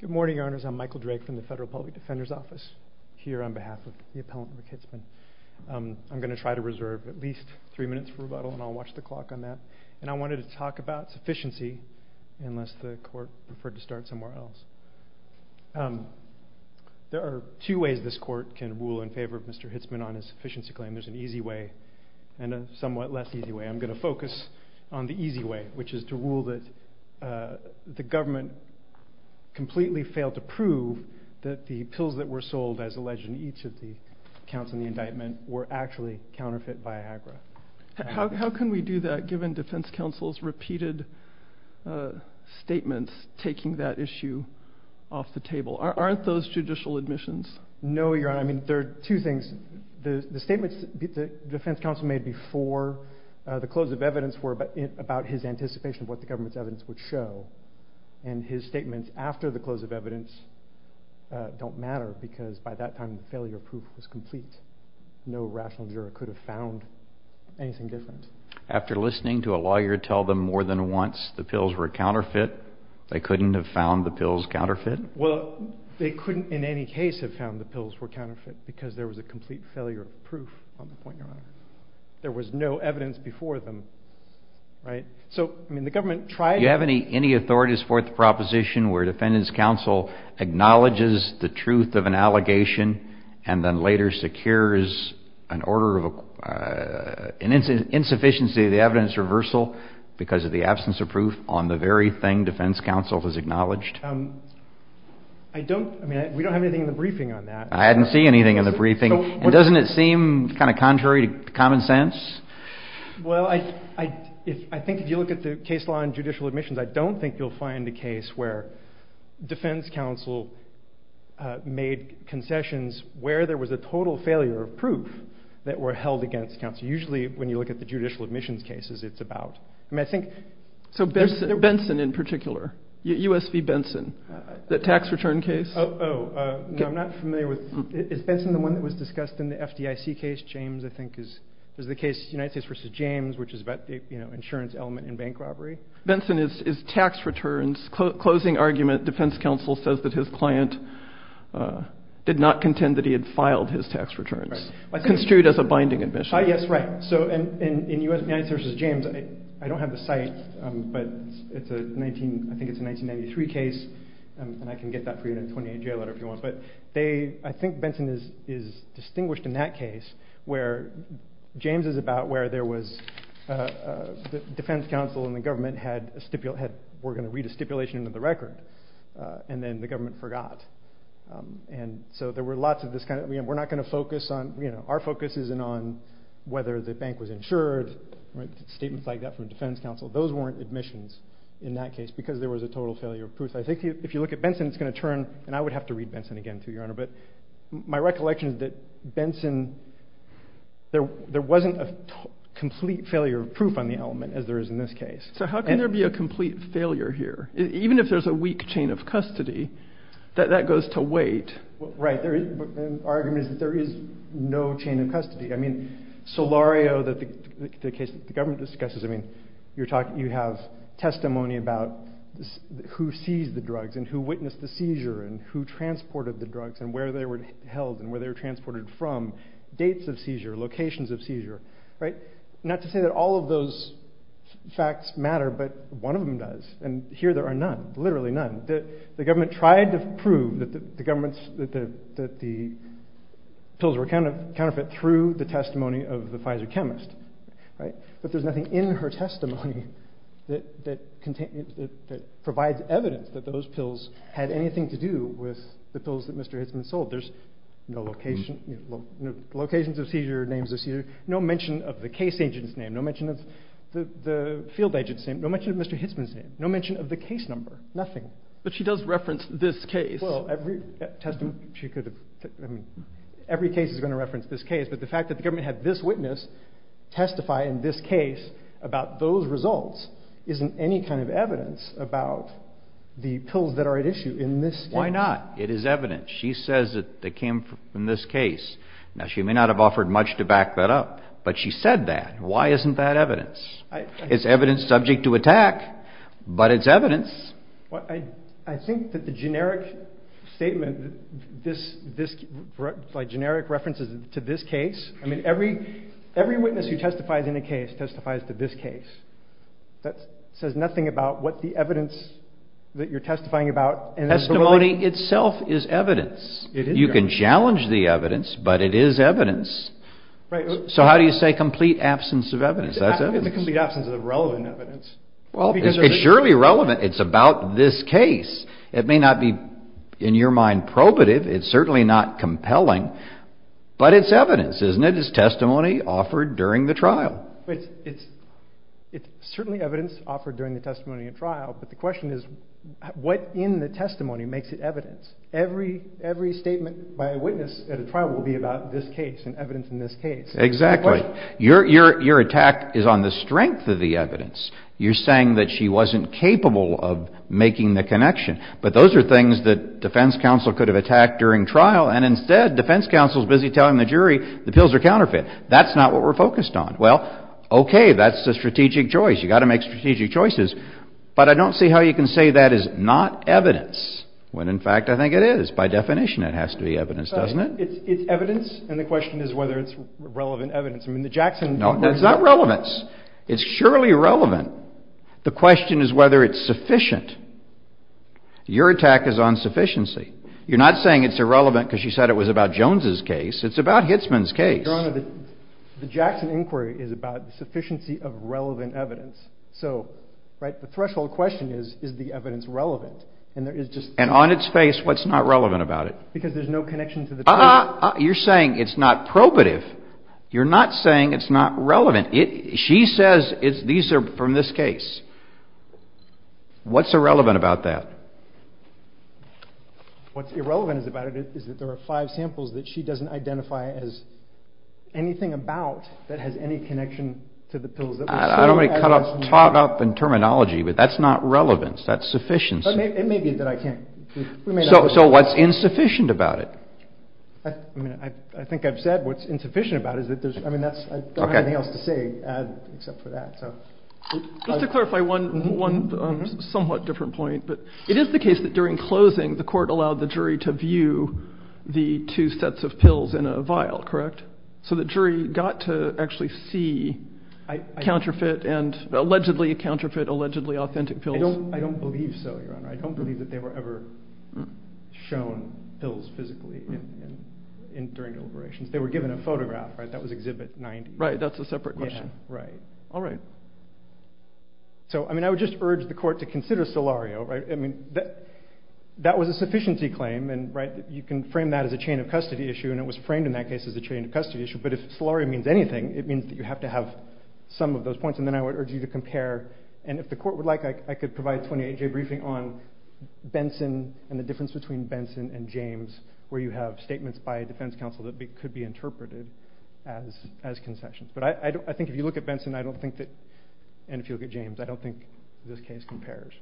Good morning, Your Honors. I'm Michael Drake from the Federal Public Defender's Office here on behalf of the appellant, Rick Hitsman. I'm going to try to reserve at least three minutes for rebuttal and I'll watch the clock on that. And I wanted to talk about sufficiency unless the Court preferred to start somewhere else. There are two ways this Court can rule in favor of Mr. Hitsman on his sufficiency claim. There's an easy way and a somewhat less easy way. I'm going to focus on the easy way, which is to rule that the government completely failed to prove that the pills that were sold as alleged in each of the counts in the indictment were actually counterfeit by AGRA. How can we do that given Defense Counsel's repeated statements taking that issue off the table? Aren't those judicial admissions? No, Your Honor. I mean, there are two things. The statements that Defense Counsel made before the close of evidence were about his anticipation of what the government's evidence would show. And his statements after the close of evidence don't matter because by that time the failure proof was complete. No rational juror could have found anything different. After listening to a lawyer tell them more than once the pills were counterfeit, they couldn't have found the pills counterfeit? Well, they couldn't in any case have found the pills were counterfeit because there was a complete failure of proof on the point, Your Honor. There was no evidence before them. Right? So, I mean, the government tried... Do you have any authorities for the proposition where Defendant's Counsel acknowledges the truth of an allegation and then later secures an order of... an insufficiency of the evidence reversal because of the absence of proof on the very thing Defense Counsel has acknowledged? I don't... I mean, we don't have anything in the briefing on that. I hadn't seen anything in the briefing. And doesn't it seem kind of contrary to common sense? Well, I think if you look at the case law and judicial admissions, I don't think you'll find a case where Defense Counsel made concessions where there was a total failure of proof that were held against counsel. Usually when you look at the judicial admissions cases, it's about... I mean, I think... Benson in particular, USV Benson, the tax return case. Oh, no, I'm not familiar with... Is Benson the one that was discussed in the FDIC case? James, I think, is the case, United States v. James, which is about the insurance element in bank robbery. Benson is tax returns. Closing argument, Defense Counsel says that his client did not contend that he had filed his tax returns, construed as a binding admission. Yes, right. So in USV versus James, I don't have the site, but it's a 19... I think it's a 1993 case, and I can get that for you in a 28-J letter if you want. But they... I think Benson is distinguished in that case where James is about where there was... Defense Counsel and the government had... were going to read a stipulation into the record, and then the government forgot. And so there were lots of this kind of... We're not going to whether the bank was insured, statements like that from Defense Counsel. Those weren't admissions in that case because there was a total failure of proof. I think if you look at Benson, it's going to turn, and I would have to read Benson again, too, Your Honor, but my recollection is that Benson... There wasn't a complete failure of proof on the element as there is in this case. So how can there be a complete failure here? Even if there's a weak chain of custody, that goes to wait. Right. The argument is that there is no chain of custody. I mean, Solario, the case that the government discusses, I mean, you're talking... You have testimony about who seized the drugs and who witnessed the seizure and who transported the drugs and where they were held and where they were transported from, dates of seizure, locations of seizure, right? Not to say that all of those facts matter, but one of them does, and here there are none, literally none. The government tried to prove that the pills were a counterfeit through the testimony of the Pfizer chemist, right? But there's nothing in her testimony that provides evidence that those pills had anything to do with the pills that Mr. Hitzman sold. There's no locations of seizure, names of seizure, no mention of the case agent's name, no mention of the field number, nothing. But she does reference this case. Well, every case is going to reference this case, but the fact that the government had this witness testify in this case about those results isn't any kind of evidence about the pills that are at issue in this case. Why not? It is evidence. She says that they came from this case. Now, she may not have offered much to back that up, but she said that. Why isn't that evidence? It's evidence subject to attack, but it's evidence. I think that the generic statement, like generic references to this case, I mean, every witness who testifies in a case testifies to this case. That says nothing about what the evidence that you're testifying about. Testimony itself is evidence. You can challenge the evidence, but it is evidence. So how do you say complete absence of evidence? That's evidence. It's a complete absence of relevant evidence. Well, it's surely relevant. It's about this case. It may not be, in your mind, probative. It's certainly not compelling, but it's evidence, isn't it? It's testimony offered during the trial. It's certainly evidence offered during the testimony at trial, but the question is what in the testimony makes it evidence? Every statement by a witness at a trial will be about this case. Exactly. Your attack is on the strength of the evidence. You're saying that she wasn't capable of making the connection, but those are things that defense counsel could have attacked during trial, and instead, defense counsel is busy telling the jury the pills are counterfeit. That's not what we're focused on. Well, okay, that's a strategic choice. You've got to make strategic choices, but I don't see how you can say that is not evidence, when in fact I think it is. By definition, it has to be evidence, doesn't it? It's evidence, and the question is whether it's relevant evidence. No, that's not relevance. It's surely relevant. The question is whether it's sufficient. Your attack is on sufficiency. You're not saying it's irrelevant because she said it was about Jones' case. It's about Hitzman's case. Your Honor, the Jackson inquiry is about the sufficiency of relevant evidence. So, right, the threshold question is, is the evidence relevant? And on its face, what's not relevant about it? Because there's no connection to the case. Uh-uh. You're saying it's not probative. You're not saying it's not relevant. She says these are from this case. What's irrelevant about that? What's irrelevant about it is that there are five samples that she doesn't identify as anything about that has any connection to the pills. I don't want to talk up in terminology, but that's not relevance. That's sufficiency. It may be that I can't. So what's insufficient about it? I mean, I think I've said what's insufficient about it. I mean, I don't have anything else to say except for that. Just to clarify one somewhat different point. It is the case that during closing, the court allowed the jury to view the two sets of pills in a vial, correct? So the jury got to actually see counterfeit and allegedly counterfeit authentic pills. I don't believe so, Your Honor. I don't believe that they were ever shown pills physically during deliberations. They were given a photograph, right? That was exhibit 90. Right. That's a separate question. Yeah. Right. All right. So, I mean, I would just urge the court to consider Solario, right? I mean, that was a sufficiency claim, and right, you can frame that as a chain of custody issue, and it was framed in that case as a chain of custody issue. But if Solario means anything, it means that you have to have some of those points, and then I would urge you to compare. And if the court would like, I could provide a 28-J briefing on Benson and the difference between Benson and James, where you have statements by a defense counsel that could be interpreted as concessions. But I think if you look at Benson, I don't think that, and if you look at James, I don't think this case compares.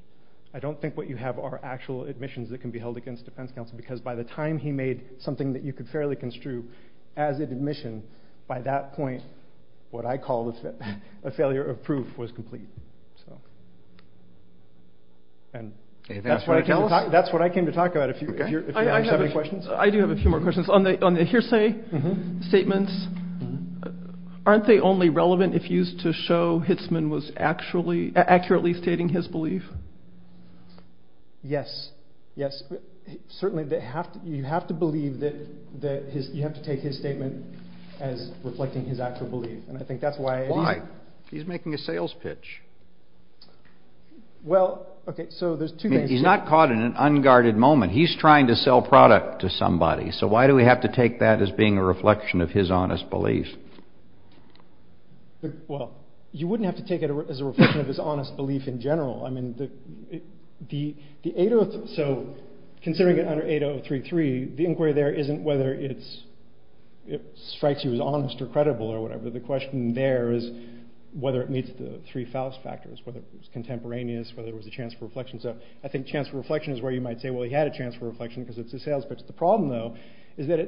I don't think what you have are actual admissions that can be held against defense counsel, because by the time he made something that you could fairly construe as an admission, by that point, what I call a failure of proof was complete. And that's what I came to talk about. I do have a few more questions. On the hearsay statements, aren't they only relevant if used to show Hitzman was accurately stating his belief? Yes, yes. Certainly, you have to believe that you have to take his statement as reflecting his accurate belief. And I think that's why... Why? He's making a sales pitch. Well, okay, so there's two things... He's not caught in an unguarded moment. He's trying to sell product to somebody. So why do we have to take that as being a reflection of his honest belief? Well, you wouldn't have to take it as a reflection of his honest belief in general. I mean, the 803... So considering it under 8033, the inquiry there isn't whether it strikes you as honest or credible or whatever. The question there is whether it meets the three Faust factors, whether it was contemporaneous, whether there was a chance for reflection. So I think chance for reflection is where you might say, well, he had a chance for reflection because it's a sales pitch. The problem though, is that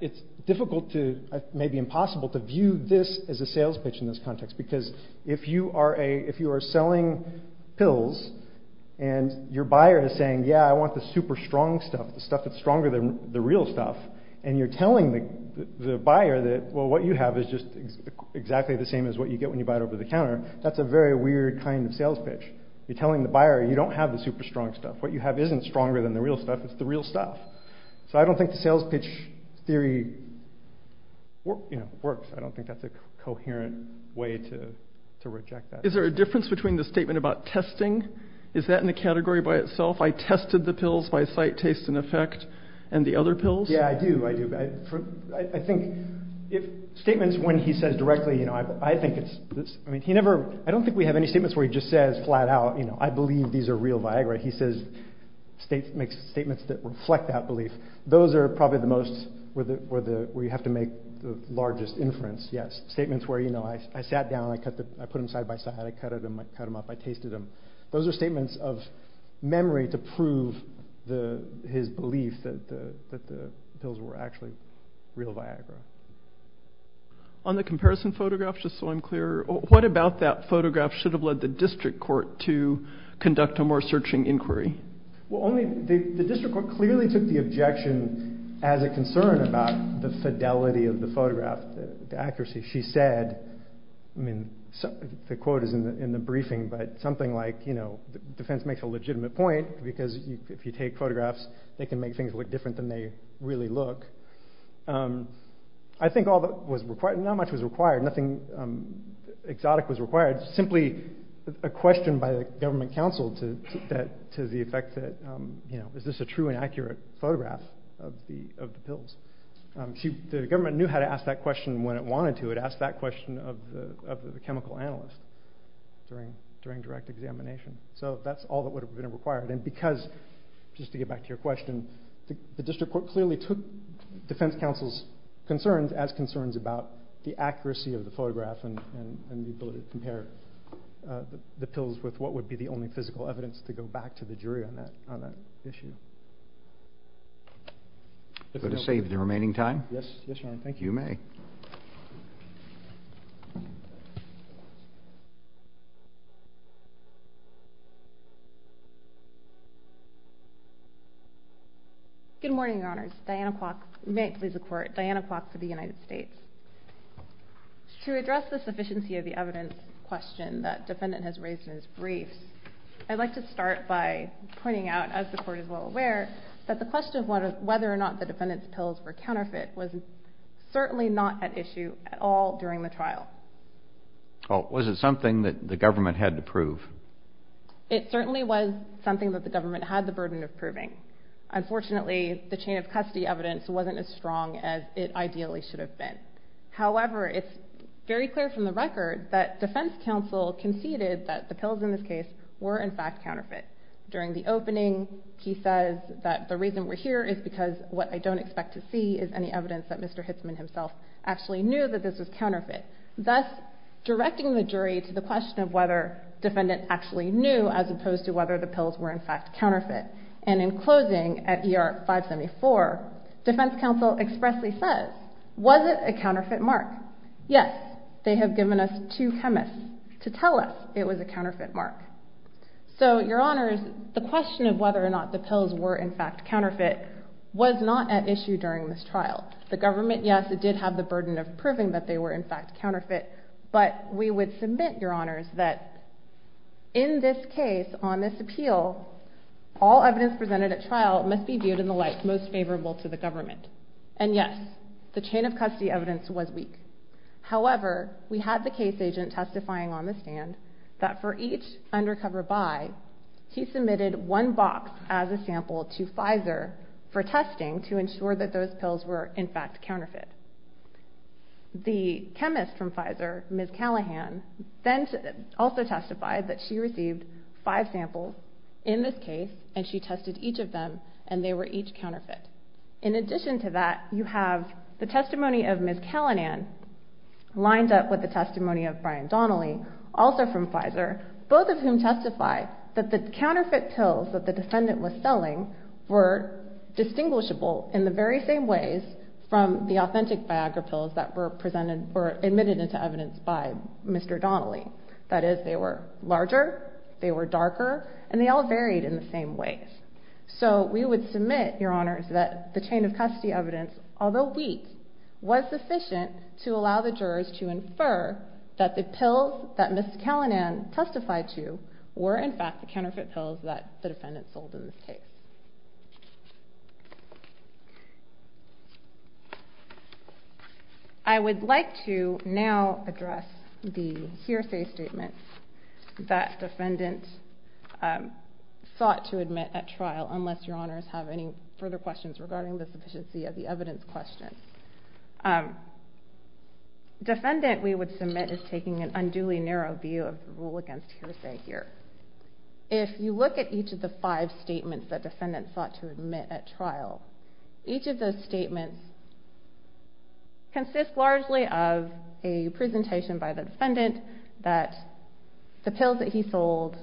it's difficult to, maybe impossible to view this as a sales pitch in this context. Because if you are selling pills and your buyer is saying, yeah, I want the super strong stuff, the stuff that's stronger than the real stuff. And you're telling the buyer that, well, what you have is just exactly the same as what you get when you buy it over the counter. That's a very weird kind of sales pitch. You're telling the buyer you don't have the super strong stuff. What you have isn't stronger than the real stuff. It's the real stuff. So I don't think the sales pitch theory works. I don't think that's a coherent way to reject that. Is there a difference between the statement about testing? Is that in the category by itself? I tested the pills by sight, taste and effect and the other pills. Yeah, I do. I do. I think if statements when he says directly, I think it's, I mean, he never, I don't think we have any statements where he just says flat out, I believe these are real Viagra. He says, makes statements that reflect that belief. Those are probably the most where you have to make the largest inference. Yes. Statements where I sat down, I put them side by side, I cut them up, I tasted them. Those are statements of memory to prove his belief that the pills were actually real Viagra. On the comparison photograph, just so I'm clear, the district court clearly took the objection as a concern about the fidelity of the photograph, the accuracy. She said, I mean, the quote is in the briefing, but something like, you know, defense makes a legitimate point because if you take photographs, they can make things look different than they really look. I think all that was required, not much was required, nothing exotic was required, simply a question by the government counsel to that, to the effect that, you know, is this a true and accurate photograph of the, of the pills? The government knew how to ask that question when it wanted to, it asked that question of the, of the chemical analyst during, during direct examination. So that's all that would have been required. And because just to get back to your question, the district court clearly took defense counsel's concerns about the accuracy of the photograph and the ability to compare the pills with what would be the only physical evidence to go back to the jury on that, on that issue. Go to save the remaining time. Yes. Yes, Your Honor. Thank you. You may. Good morning, Your Honors. Diana Clark, may it please the court, Diana Clark for the United States. To address the sufficiency of the evidence question that defendant has raised in his briefs, I'd like to start by pointing out, as the court is well aware, that the question of whether or not the defendant's pills were counterfeit was certainly not at issue at all during the trial. Oh, was it something that the government had to prove? It certainly was something that the government had the burden of proving. Unfortunately, the chain of custody evidence wasn't as strong as it ideally should have been. However, it's very clear from the record that defense counsel conceded that the pills in this case were in fact counterfeit. During the opening, he says that the reason we're here is because what I don't expect to see is any evidence that Mr. Hitzman himself actually knew that this was counterfeit. Thus, directing the jury to the question of whether defendant actually knew as opposed to whether the pills were in fact counterfeit. And in closing, at ER 574, defense counsel expressly says, was it a counterfeit mark? Yes. They have given us two chemists to tell us it was a counterfeit mark. So, Your Honors, the question of whether or not the pills were in fact counterfeit was not at issue during this trial. The government, yes, it did have the burden of proving that they were in fact counterfeit. But we would submit, Your Honors, that in this case, on this appeal, all evidence presented at trial must be viewed in the light most favorable to the government. And yes, the chain of custody evidence was weak. However, we had the case agent testifying on the stand that for each undercover buy, he submitted one box as a sample to Pfizer for testing to ensure that those pills were in fact counterfeit. The chemist from Pfizer, Ms. Callahan, then also testified that she received five samples in this case and she tested each of them and they were each counterfeit. In addition to that, you have the testimony of Ms. Callahan lined up with the testimony of Brian Donnelly, also from Pfizer, both of whom testify that the pills were distinguishable in the very same ways from the authentic Viagra pills that were presented or admitted into evidence by Mr. Donnelly. That is, they were larger, they were darker, and they all varied in the same ways. So we would submit, Your Honors, that the chain of custody evidence, although weak, was sufficient to allow the jurors to infer that the pills that Ms. Callahan testified to were in fact the counterfeit pills that the defendant sold in this case. I would like to now address the hearsay statements that defendant sought to admit at trial, unless Your Honors have any further questions regarding the sufficiency of the evidence questions. Defendant, we would submit, is taking an unduly narrow view of the rule against hearsay here. If you look at each of the five statements that defendant sought to admit at trial, each of those statements consist largely of a presentation by the defendant that the pills that he sold,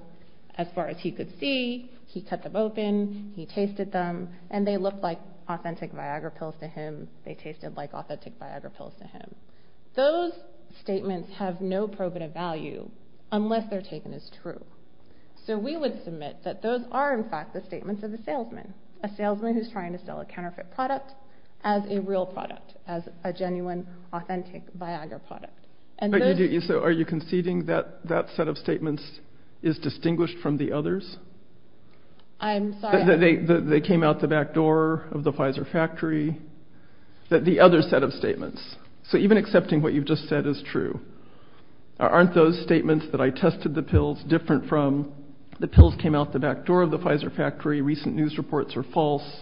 as far as he could see, he kept them open, he tasted them, and they looked like authentic Viagra pills to him, they tasted like authentic Viagra pills to him. Those statements have no probative value unless they're taken as true. So we would submit that those are in fact the statements of the salesman, a salesman who's trying to sell a counterfeit product as a real product, as a genuine authentic Viagra product. So are you conceding that that set of statements is distinguished from the others? I'm sorry? That they came out the back door of the Pfizer factory, that the other set of statements, so even accepting what you've just said is true, aren't those statements that I tested the pills different from the pills came out the back door of the Pfizer factory, recent news reports are false,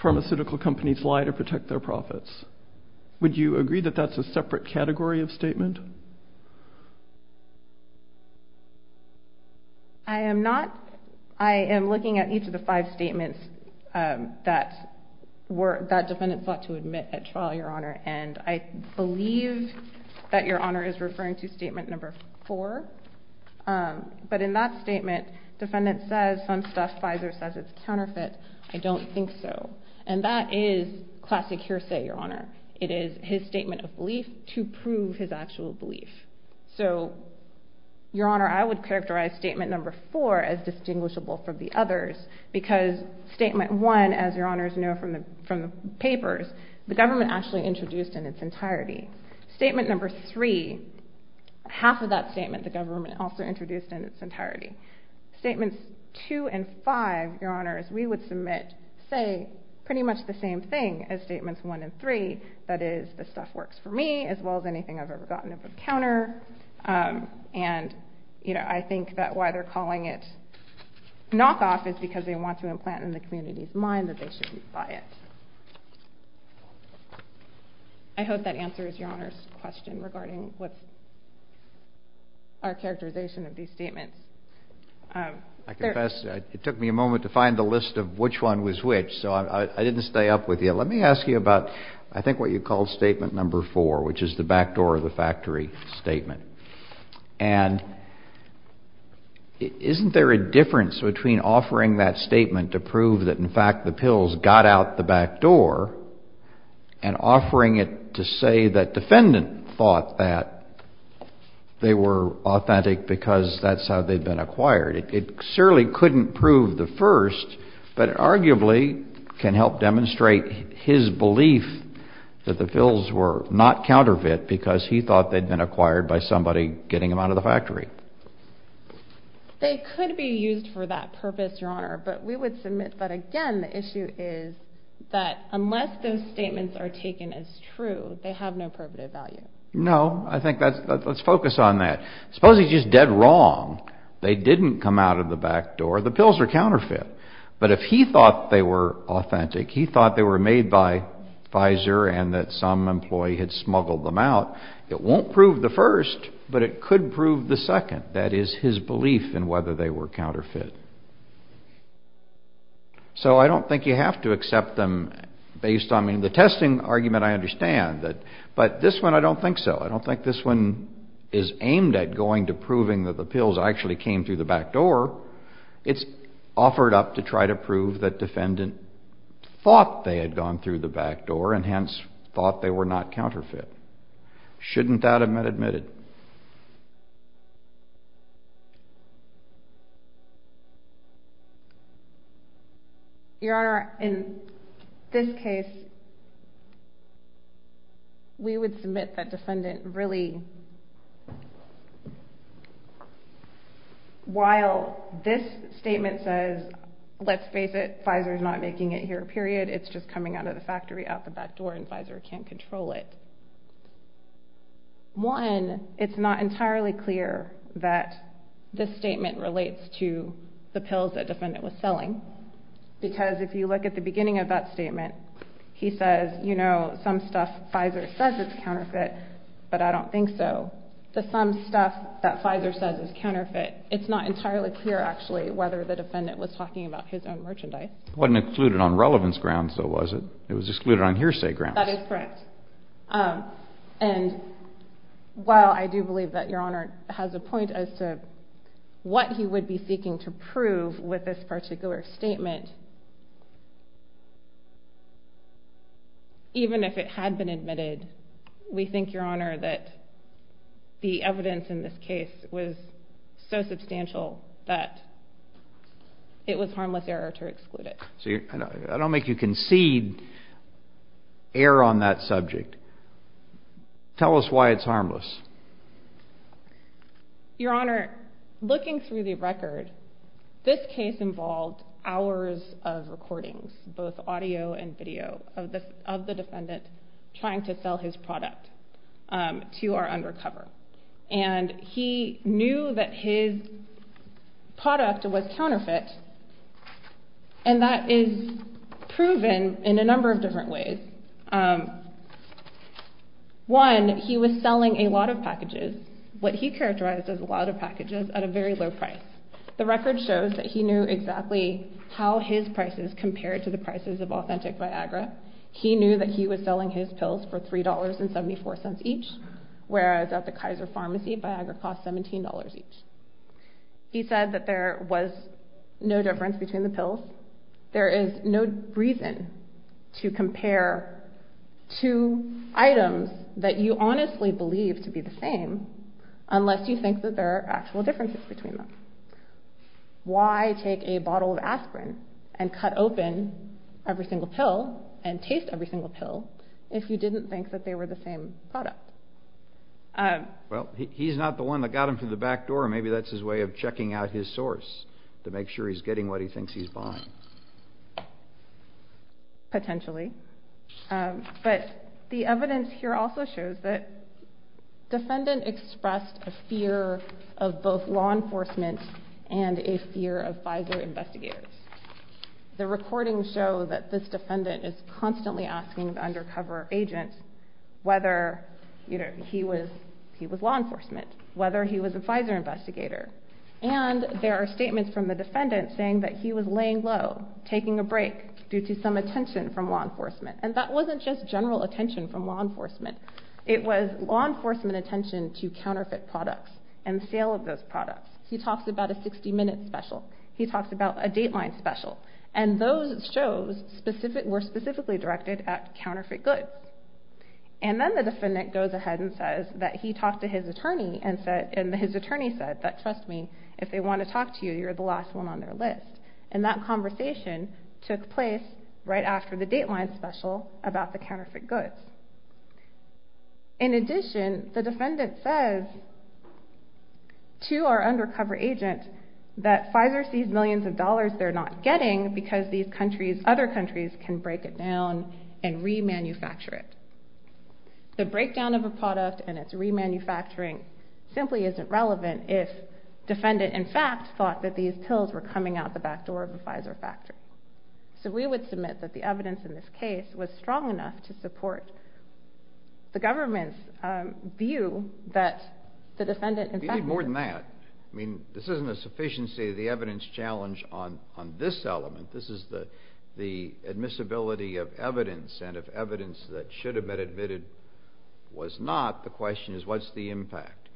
pharmaceutical companies lie to protect their profits. Would you agree that that's a separate category of statement? I am not. I am looking at each of the five statements that were, that defendant sought to admit at trial, your honor, and I believe that your honor is referring to statement number four, um, but in that statement defendant says some stuff Pfizer says it's counterfeit, I don't think so. And that is classic hearsay, your honor. It is his statement of belief to prove his actual belief. So your honor, I would characterize statement number four as distinguishable from the others, because statement one, as your honors know from the, from the papers, the government actually introduced in its entirety. Statement number three, half of that statement, the government also introduced in its entirety, statements two and five, your honors, we would submit, say pretty much the same thing as statements one and three, that is the stuff works for me as well as anything I've ever gotten up of counter. Um, and you know, I think that why they're calling it knockoff is because they want to implant in the community's mind that they shouldn't buy it. I hope that answers your question regarding what's our characterization of these statements. I confess it took me a moment to find the list of which one was which. So I didn't stay up with you. Let me ask you about, I think what you called statement number four, which is the back door of the factory statement. And isn't there a difference between offering that statement to prove that in the back door and offering it to say that defendant thought that they were authentic because that's how they've been acquired. It surely couldn't prove the first, but arguably can help demonstrate his belief that the bills were not counterfeit because he thought they'd been acquired by somebody getting them out of the factory. They could be used for that purpose, but we would submit that again, the issue is that unless those statements are taken as true, they have no probative value. No, I think that's, let's focus on that. Suppose he's just dead wrong. They didn't come out of the back door. The pills are counterfeit, but if he thought they were authentic, he thought they were made by Pfizer and that some employee had smuggled them out. It won't prove the first, but it could prove the second. That is his belief in whether they were counterfeit. So I don't think you have to accept them based on the testing argument. I understand that, but this one, I don't think so. I don't think this one is aimed at going to proving that the pills actually came through the back door. It's offered up to try to prove that defendant thought they had gone through the back door and hence thought they were not counterfeit. Shouldn't that have been admitted? Your Honor, in this case, we would submit that defendant really, while this statement says, let's face it, Pfizer is not making it here, period. It's just coming out of the factory out the back door and Pfizer can't control it. One, it's not entirely clear that this statement relates to the pills that defendant was selling, because if you look at the beginning of that statement, he says, you know, some stuff Pfizer says it's counterfeit, but I don't think so. The some stuff that Pfizer says is counterfeit, it's not entirely clear actually whether the defendant was talking about his own merchandise. Wasn't included on relevance grounds, though, was it? It was excluded on hearsay grounds. That is correct. And while I do believe that Your Honor has a point as to what he would be seeking to prove with this particular statement, even if it had been admitted, we think, Your Honor, that the evidence in this case was so substantial that it was harmless error to exclude it. So I don't make you concede error on that subject. Tell us why it's harmless. Your Honor, looking through the record, this case involved hours of recordings, both audio and video of the defendant trying to sell his product to our undercover. And he knew that his product was counterfeit, and that is proven in a number of different ways. One, he was selling a lot of packages, what he characterized as a lot of packages at a very low price. The record shows that he knew exactly how his prices compared to the prices of Authentic Viagra. He knew that he was selling his pills for $3.74 each, whereas at the Kaiser Pharmacy, Viagra costs $17 each. He said that there was no difference between the pills. There is no reason to compare two items that you honestly believe to be the same unless you think that there are differences between them. Why take a bottle of aspirin and cut open every single pill and taste every single pill if you didn't think that they were the same product? Well, he's not the one that got him through the back door. Maybe that's his way of checking out his source to make sure he's getting what he thinks he's buying. Potentially. But the evidence here also shows that the defendant expressed a fear of both law enforcement and a fear of FISA investigators. The recordings show that this defendant is constantly asking the undercover agent whether he was law enforcement, whether he was a FISA investigator. And there are statements from the defendant saying that he was laying low, taking a break due to some attention from law enforcement. It was law enforcement attention to counterfeit products and sale of those products. He talks about a 60-minute special. He talks about a dateline special. And those shows were specifically directed at counterfeit goods. And then the defendant goes ahead and says that he talked to his attorney and his attorney said that, trust me, if they want to talk to you, you're the last one on their list. And that conversation took place right after the dateline special about the counterfeit goods. In addition, the defendant says to our undercover agent that FISA sees millions of dollars they're not getting because these countries, other countries can break it down and remanufacture it. The breakdown of a product and its remanufacturing simply isn't relevant if defendant in fact thought that these pills were coming out the back door of a FISA factory. So we would submit that the evidence in this case was strong enough to support the government's view that the defendant... You need more than that. I mean, this isn't a sufficiency of the evidence challenge on this element. This is the admissibility of evidence. And if evidence that should have been admitted was not, the question is what's the impact?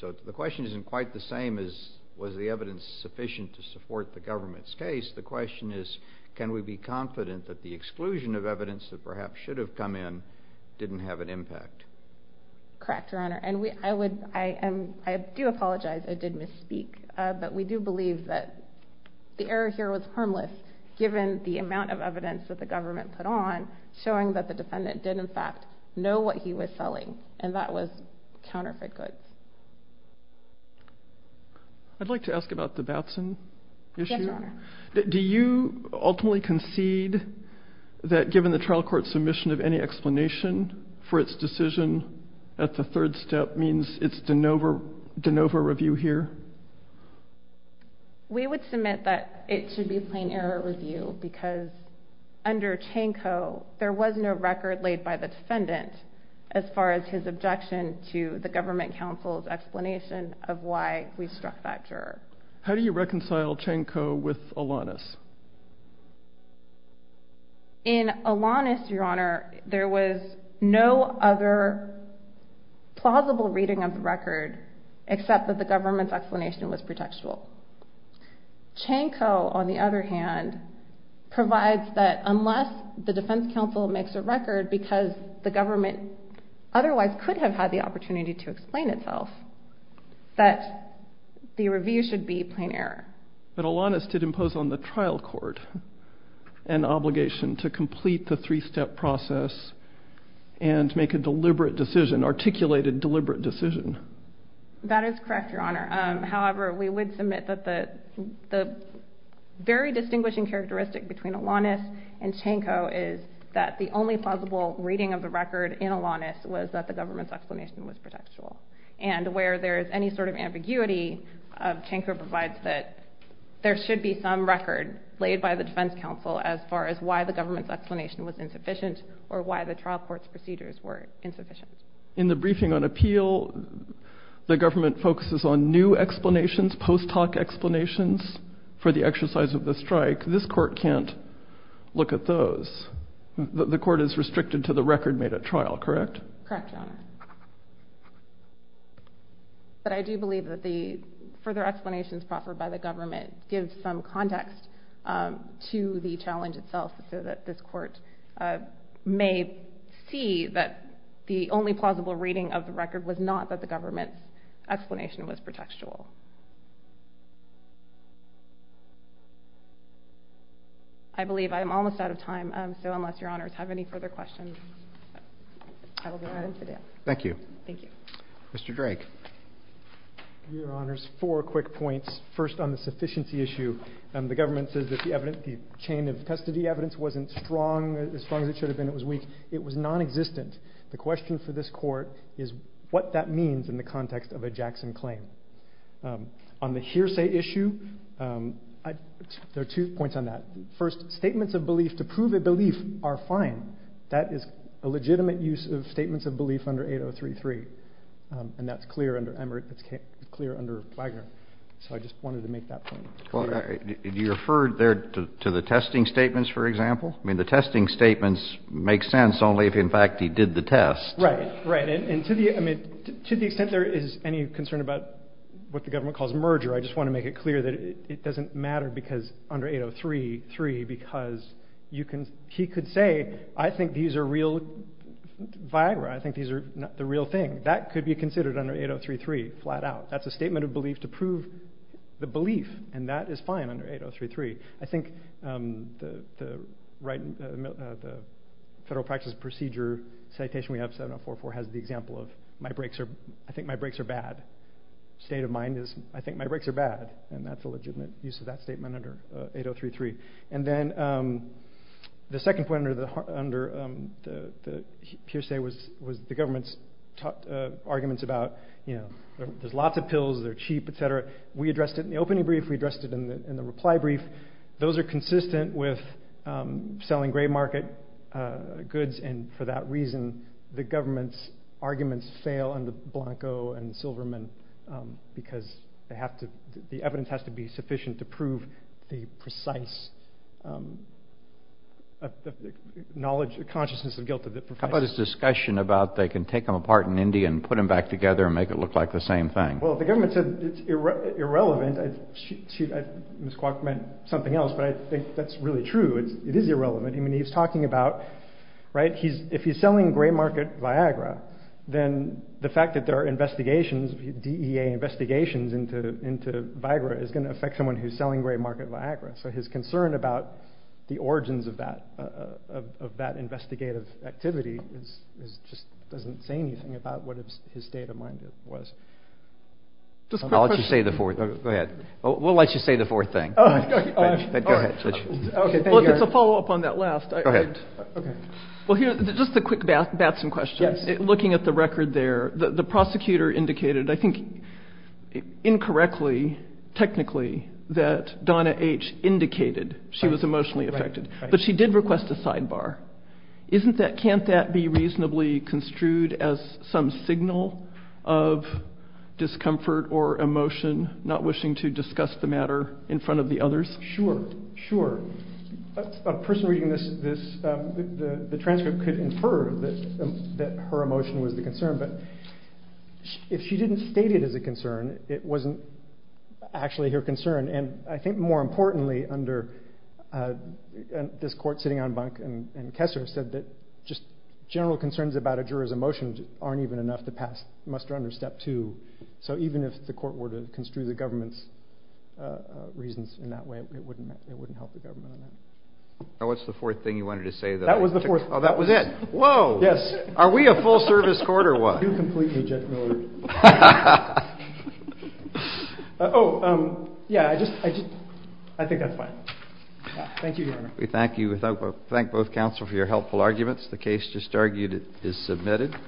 So the question isn't quite the same as was the evidence sufficient to support the government's case. The question is, can we be confident that the exclusion of evidence that perhaps should have come in didn't have an impact? Correct, your honor. And I do apologize I did misspeak, but we do believe that the error here was harmless given the amount of evidence that the government put on showing that the defendant did in fact know what he was selling and that was counterfeit goods. I'd like to ask about the Batson issue. Yes, your honor. Do you ultimately concede that given the trial court submission of any explanation for its decision at the third step means it's de novo review here? We would submit that it should be a plain error review because under Chanko, there was no record laid by the defendant as far as his objection to the government counsel's explanation of why we struck that juror. How do you reconcile Chanko with Alanis? In Alanis, your honor, there was no other plausible reading of the record except that the government's explanation was pretextual. Chanko, on the other hand, provides that unless the defense counsel makes a record because the government otherwise could have had the opportunity to explain itself that the review should be plain error. But Alanis did impose on the trial court an obligation to complete the three-step process and make a deliberate decision, articulated deliberate decision. That is correct, your honor. However, we would submit that the very distinguishing characteristic between Alanis and Chanko is that the only plausible reading of the record in Alanis was that the government's explanation was pretextual. And where there's any sort of ambiguity, Chanko provides that there should be some record laid by the defense counsel as far as why the government's explanation was insufficient or why the trial court's procedures were insufficient. In the briefing on appeal, the government focuses on new explanations, post hoc explanations for the exercise of the strike. This court can't look at those. The court is restricted to the record made at trial, correct? Correct, your honor. But I do believe that the further explanations proffered by the government give some context to the challenge itself so that this court may see that the only plausible reading of the record was not that the government's explanation was pretextual. I believe I am almost out of time, so unless your honors have any further questions, I will be adding to that. Thank you. Thank you. Mr. Drake. Your honors, four quick points. First, on the sufficiency issue, the government says that the chain of custody evidence wasn't strong, as strong as it should have been, it was weak. It was non-existent. The question for this court is what that means in the context of a Jackson claim. On the hearsay issue, there are two points on that. First, statements of belief to prove a belief are fine. That is a legitimate use of statements of belief under 8033, and that's clear under Wagner. So I just wanted to make that point. Do you refer there to the testing statements, for example? I mean, the testing statements make sense only if, in fact, he did the test. Right, right. And to the extent there is any concern about what the government calls merger, I just want to make it clear that it doesn't matter under 8033, because he could say, I think these are real, via Wagner, I think these are the real thing. That could be considered under 8033, flat out. That's a statement of belief to prove the belief, and that is fine under 8033. I think the federal practice procedure citation we have, 7044, has the example of, I think my breaks are bad. State of mind is, I think my breaks are bad, and that's a legitimate use of that statement under 8033. And then the second point under the hearsay was the government's arguments about, there's lots of pills, they're cheap, etc. We addressed it in the opening brief, we addressed it in the reply brief. Those are consistent with selling gray market goods, and for that reason, the government's arguments fail under Blanco and Silverman, because they have to, the evidence has to be sufficient to prove the precise knowledge, the consciousness of guilt of the professor. How about his discussion about they can take them apart in India and put them back together and make it look like the same thing? Well, the government said it's irrelevant. Ms. Kwok meant something else, but I think that's really true. It is irrelevant. I mean, talking about, right, if he's selling gray market Viagra, then the fact that there are investigations, DEA investigations into Viagra is going to affect someone who's selling gray market Viagra. So his concern about the origins of that investigative activity just doesn't say anything about what his state of mind was. I'll let you say the fourth, go ahead. We'll let you on that last. Okay. Well, here's just a quick Batson question. Looking at the record there, the prosecutor indicated, I think, incorrectly, technically, that Donna H. indicated she was emotionally affected, but she did request a sidebar. Can't that be reasonably construed as some signal of discomfort or emotion, not wishing to discuss the matter in front of the others? Sure, sure. A person reading the transcript could infer that her emotion was the concern, but if she didn't state it as a concern, it wasn't actually her concern. And I think more importantly under this court sitting on bunk and Kessler said that just general concerns about a juror's emotions aren't even enough to pass muster under step two. So even if the court were to construe the government's reasons in that way, it wouldn't help the government on that. Now, what's the fourth thing you wanted to say? That was the fourth. Oh, that was it. Whoa. Yes. Are we a full service court or what? You're completely gentlemanly. Oh, yeah. I just, I think that's fine. Thank you, Your Honor. We thank you. We thank both counsel for your helpful arguments. The case just argued is submitted.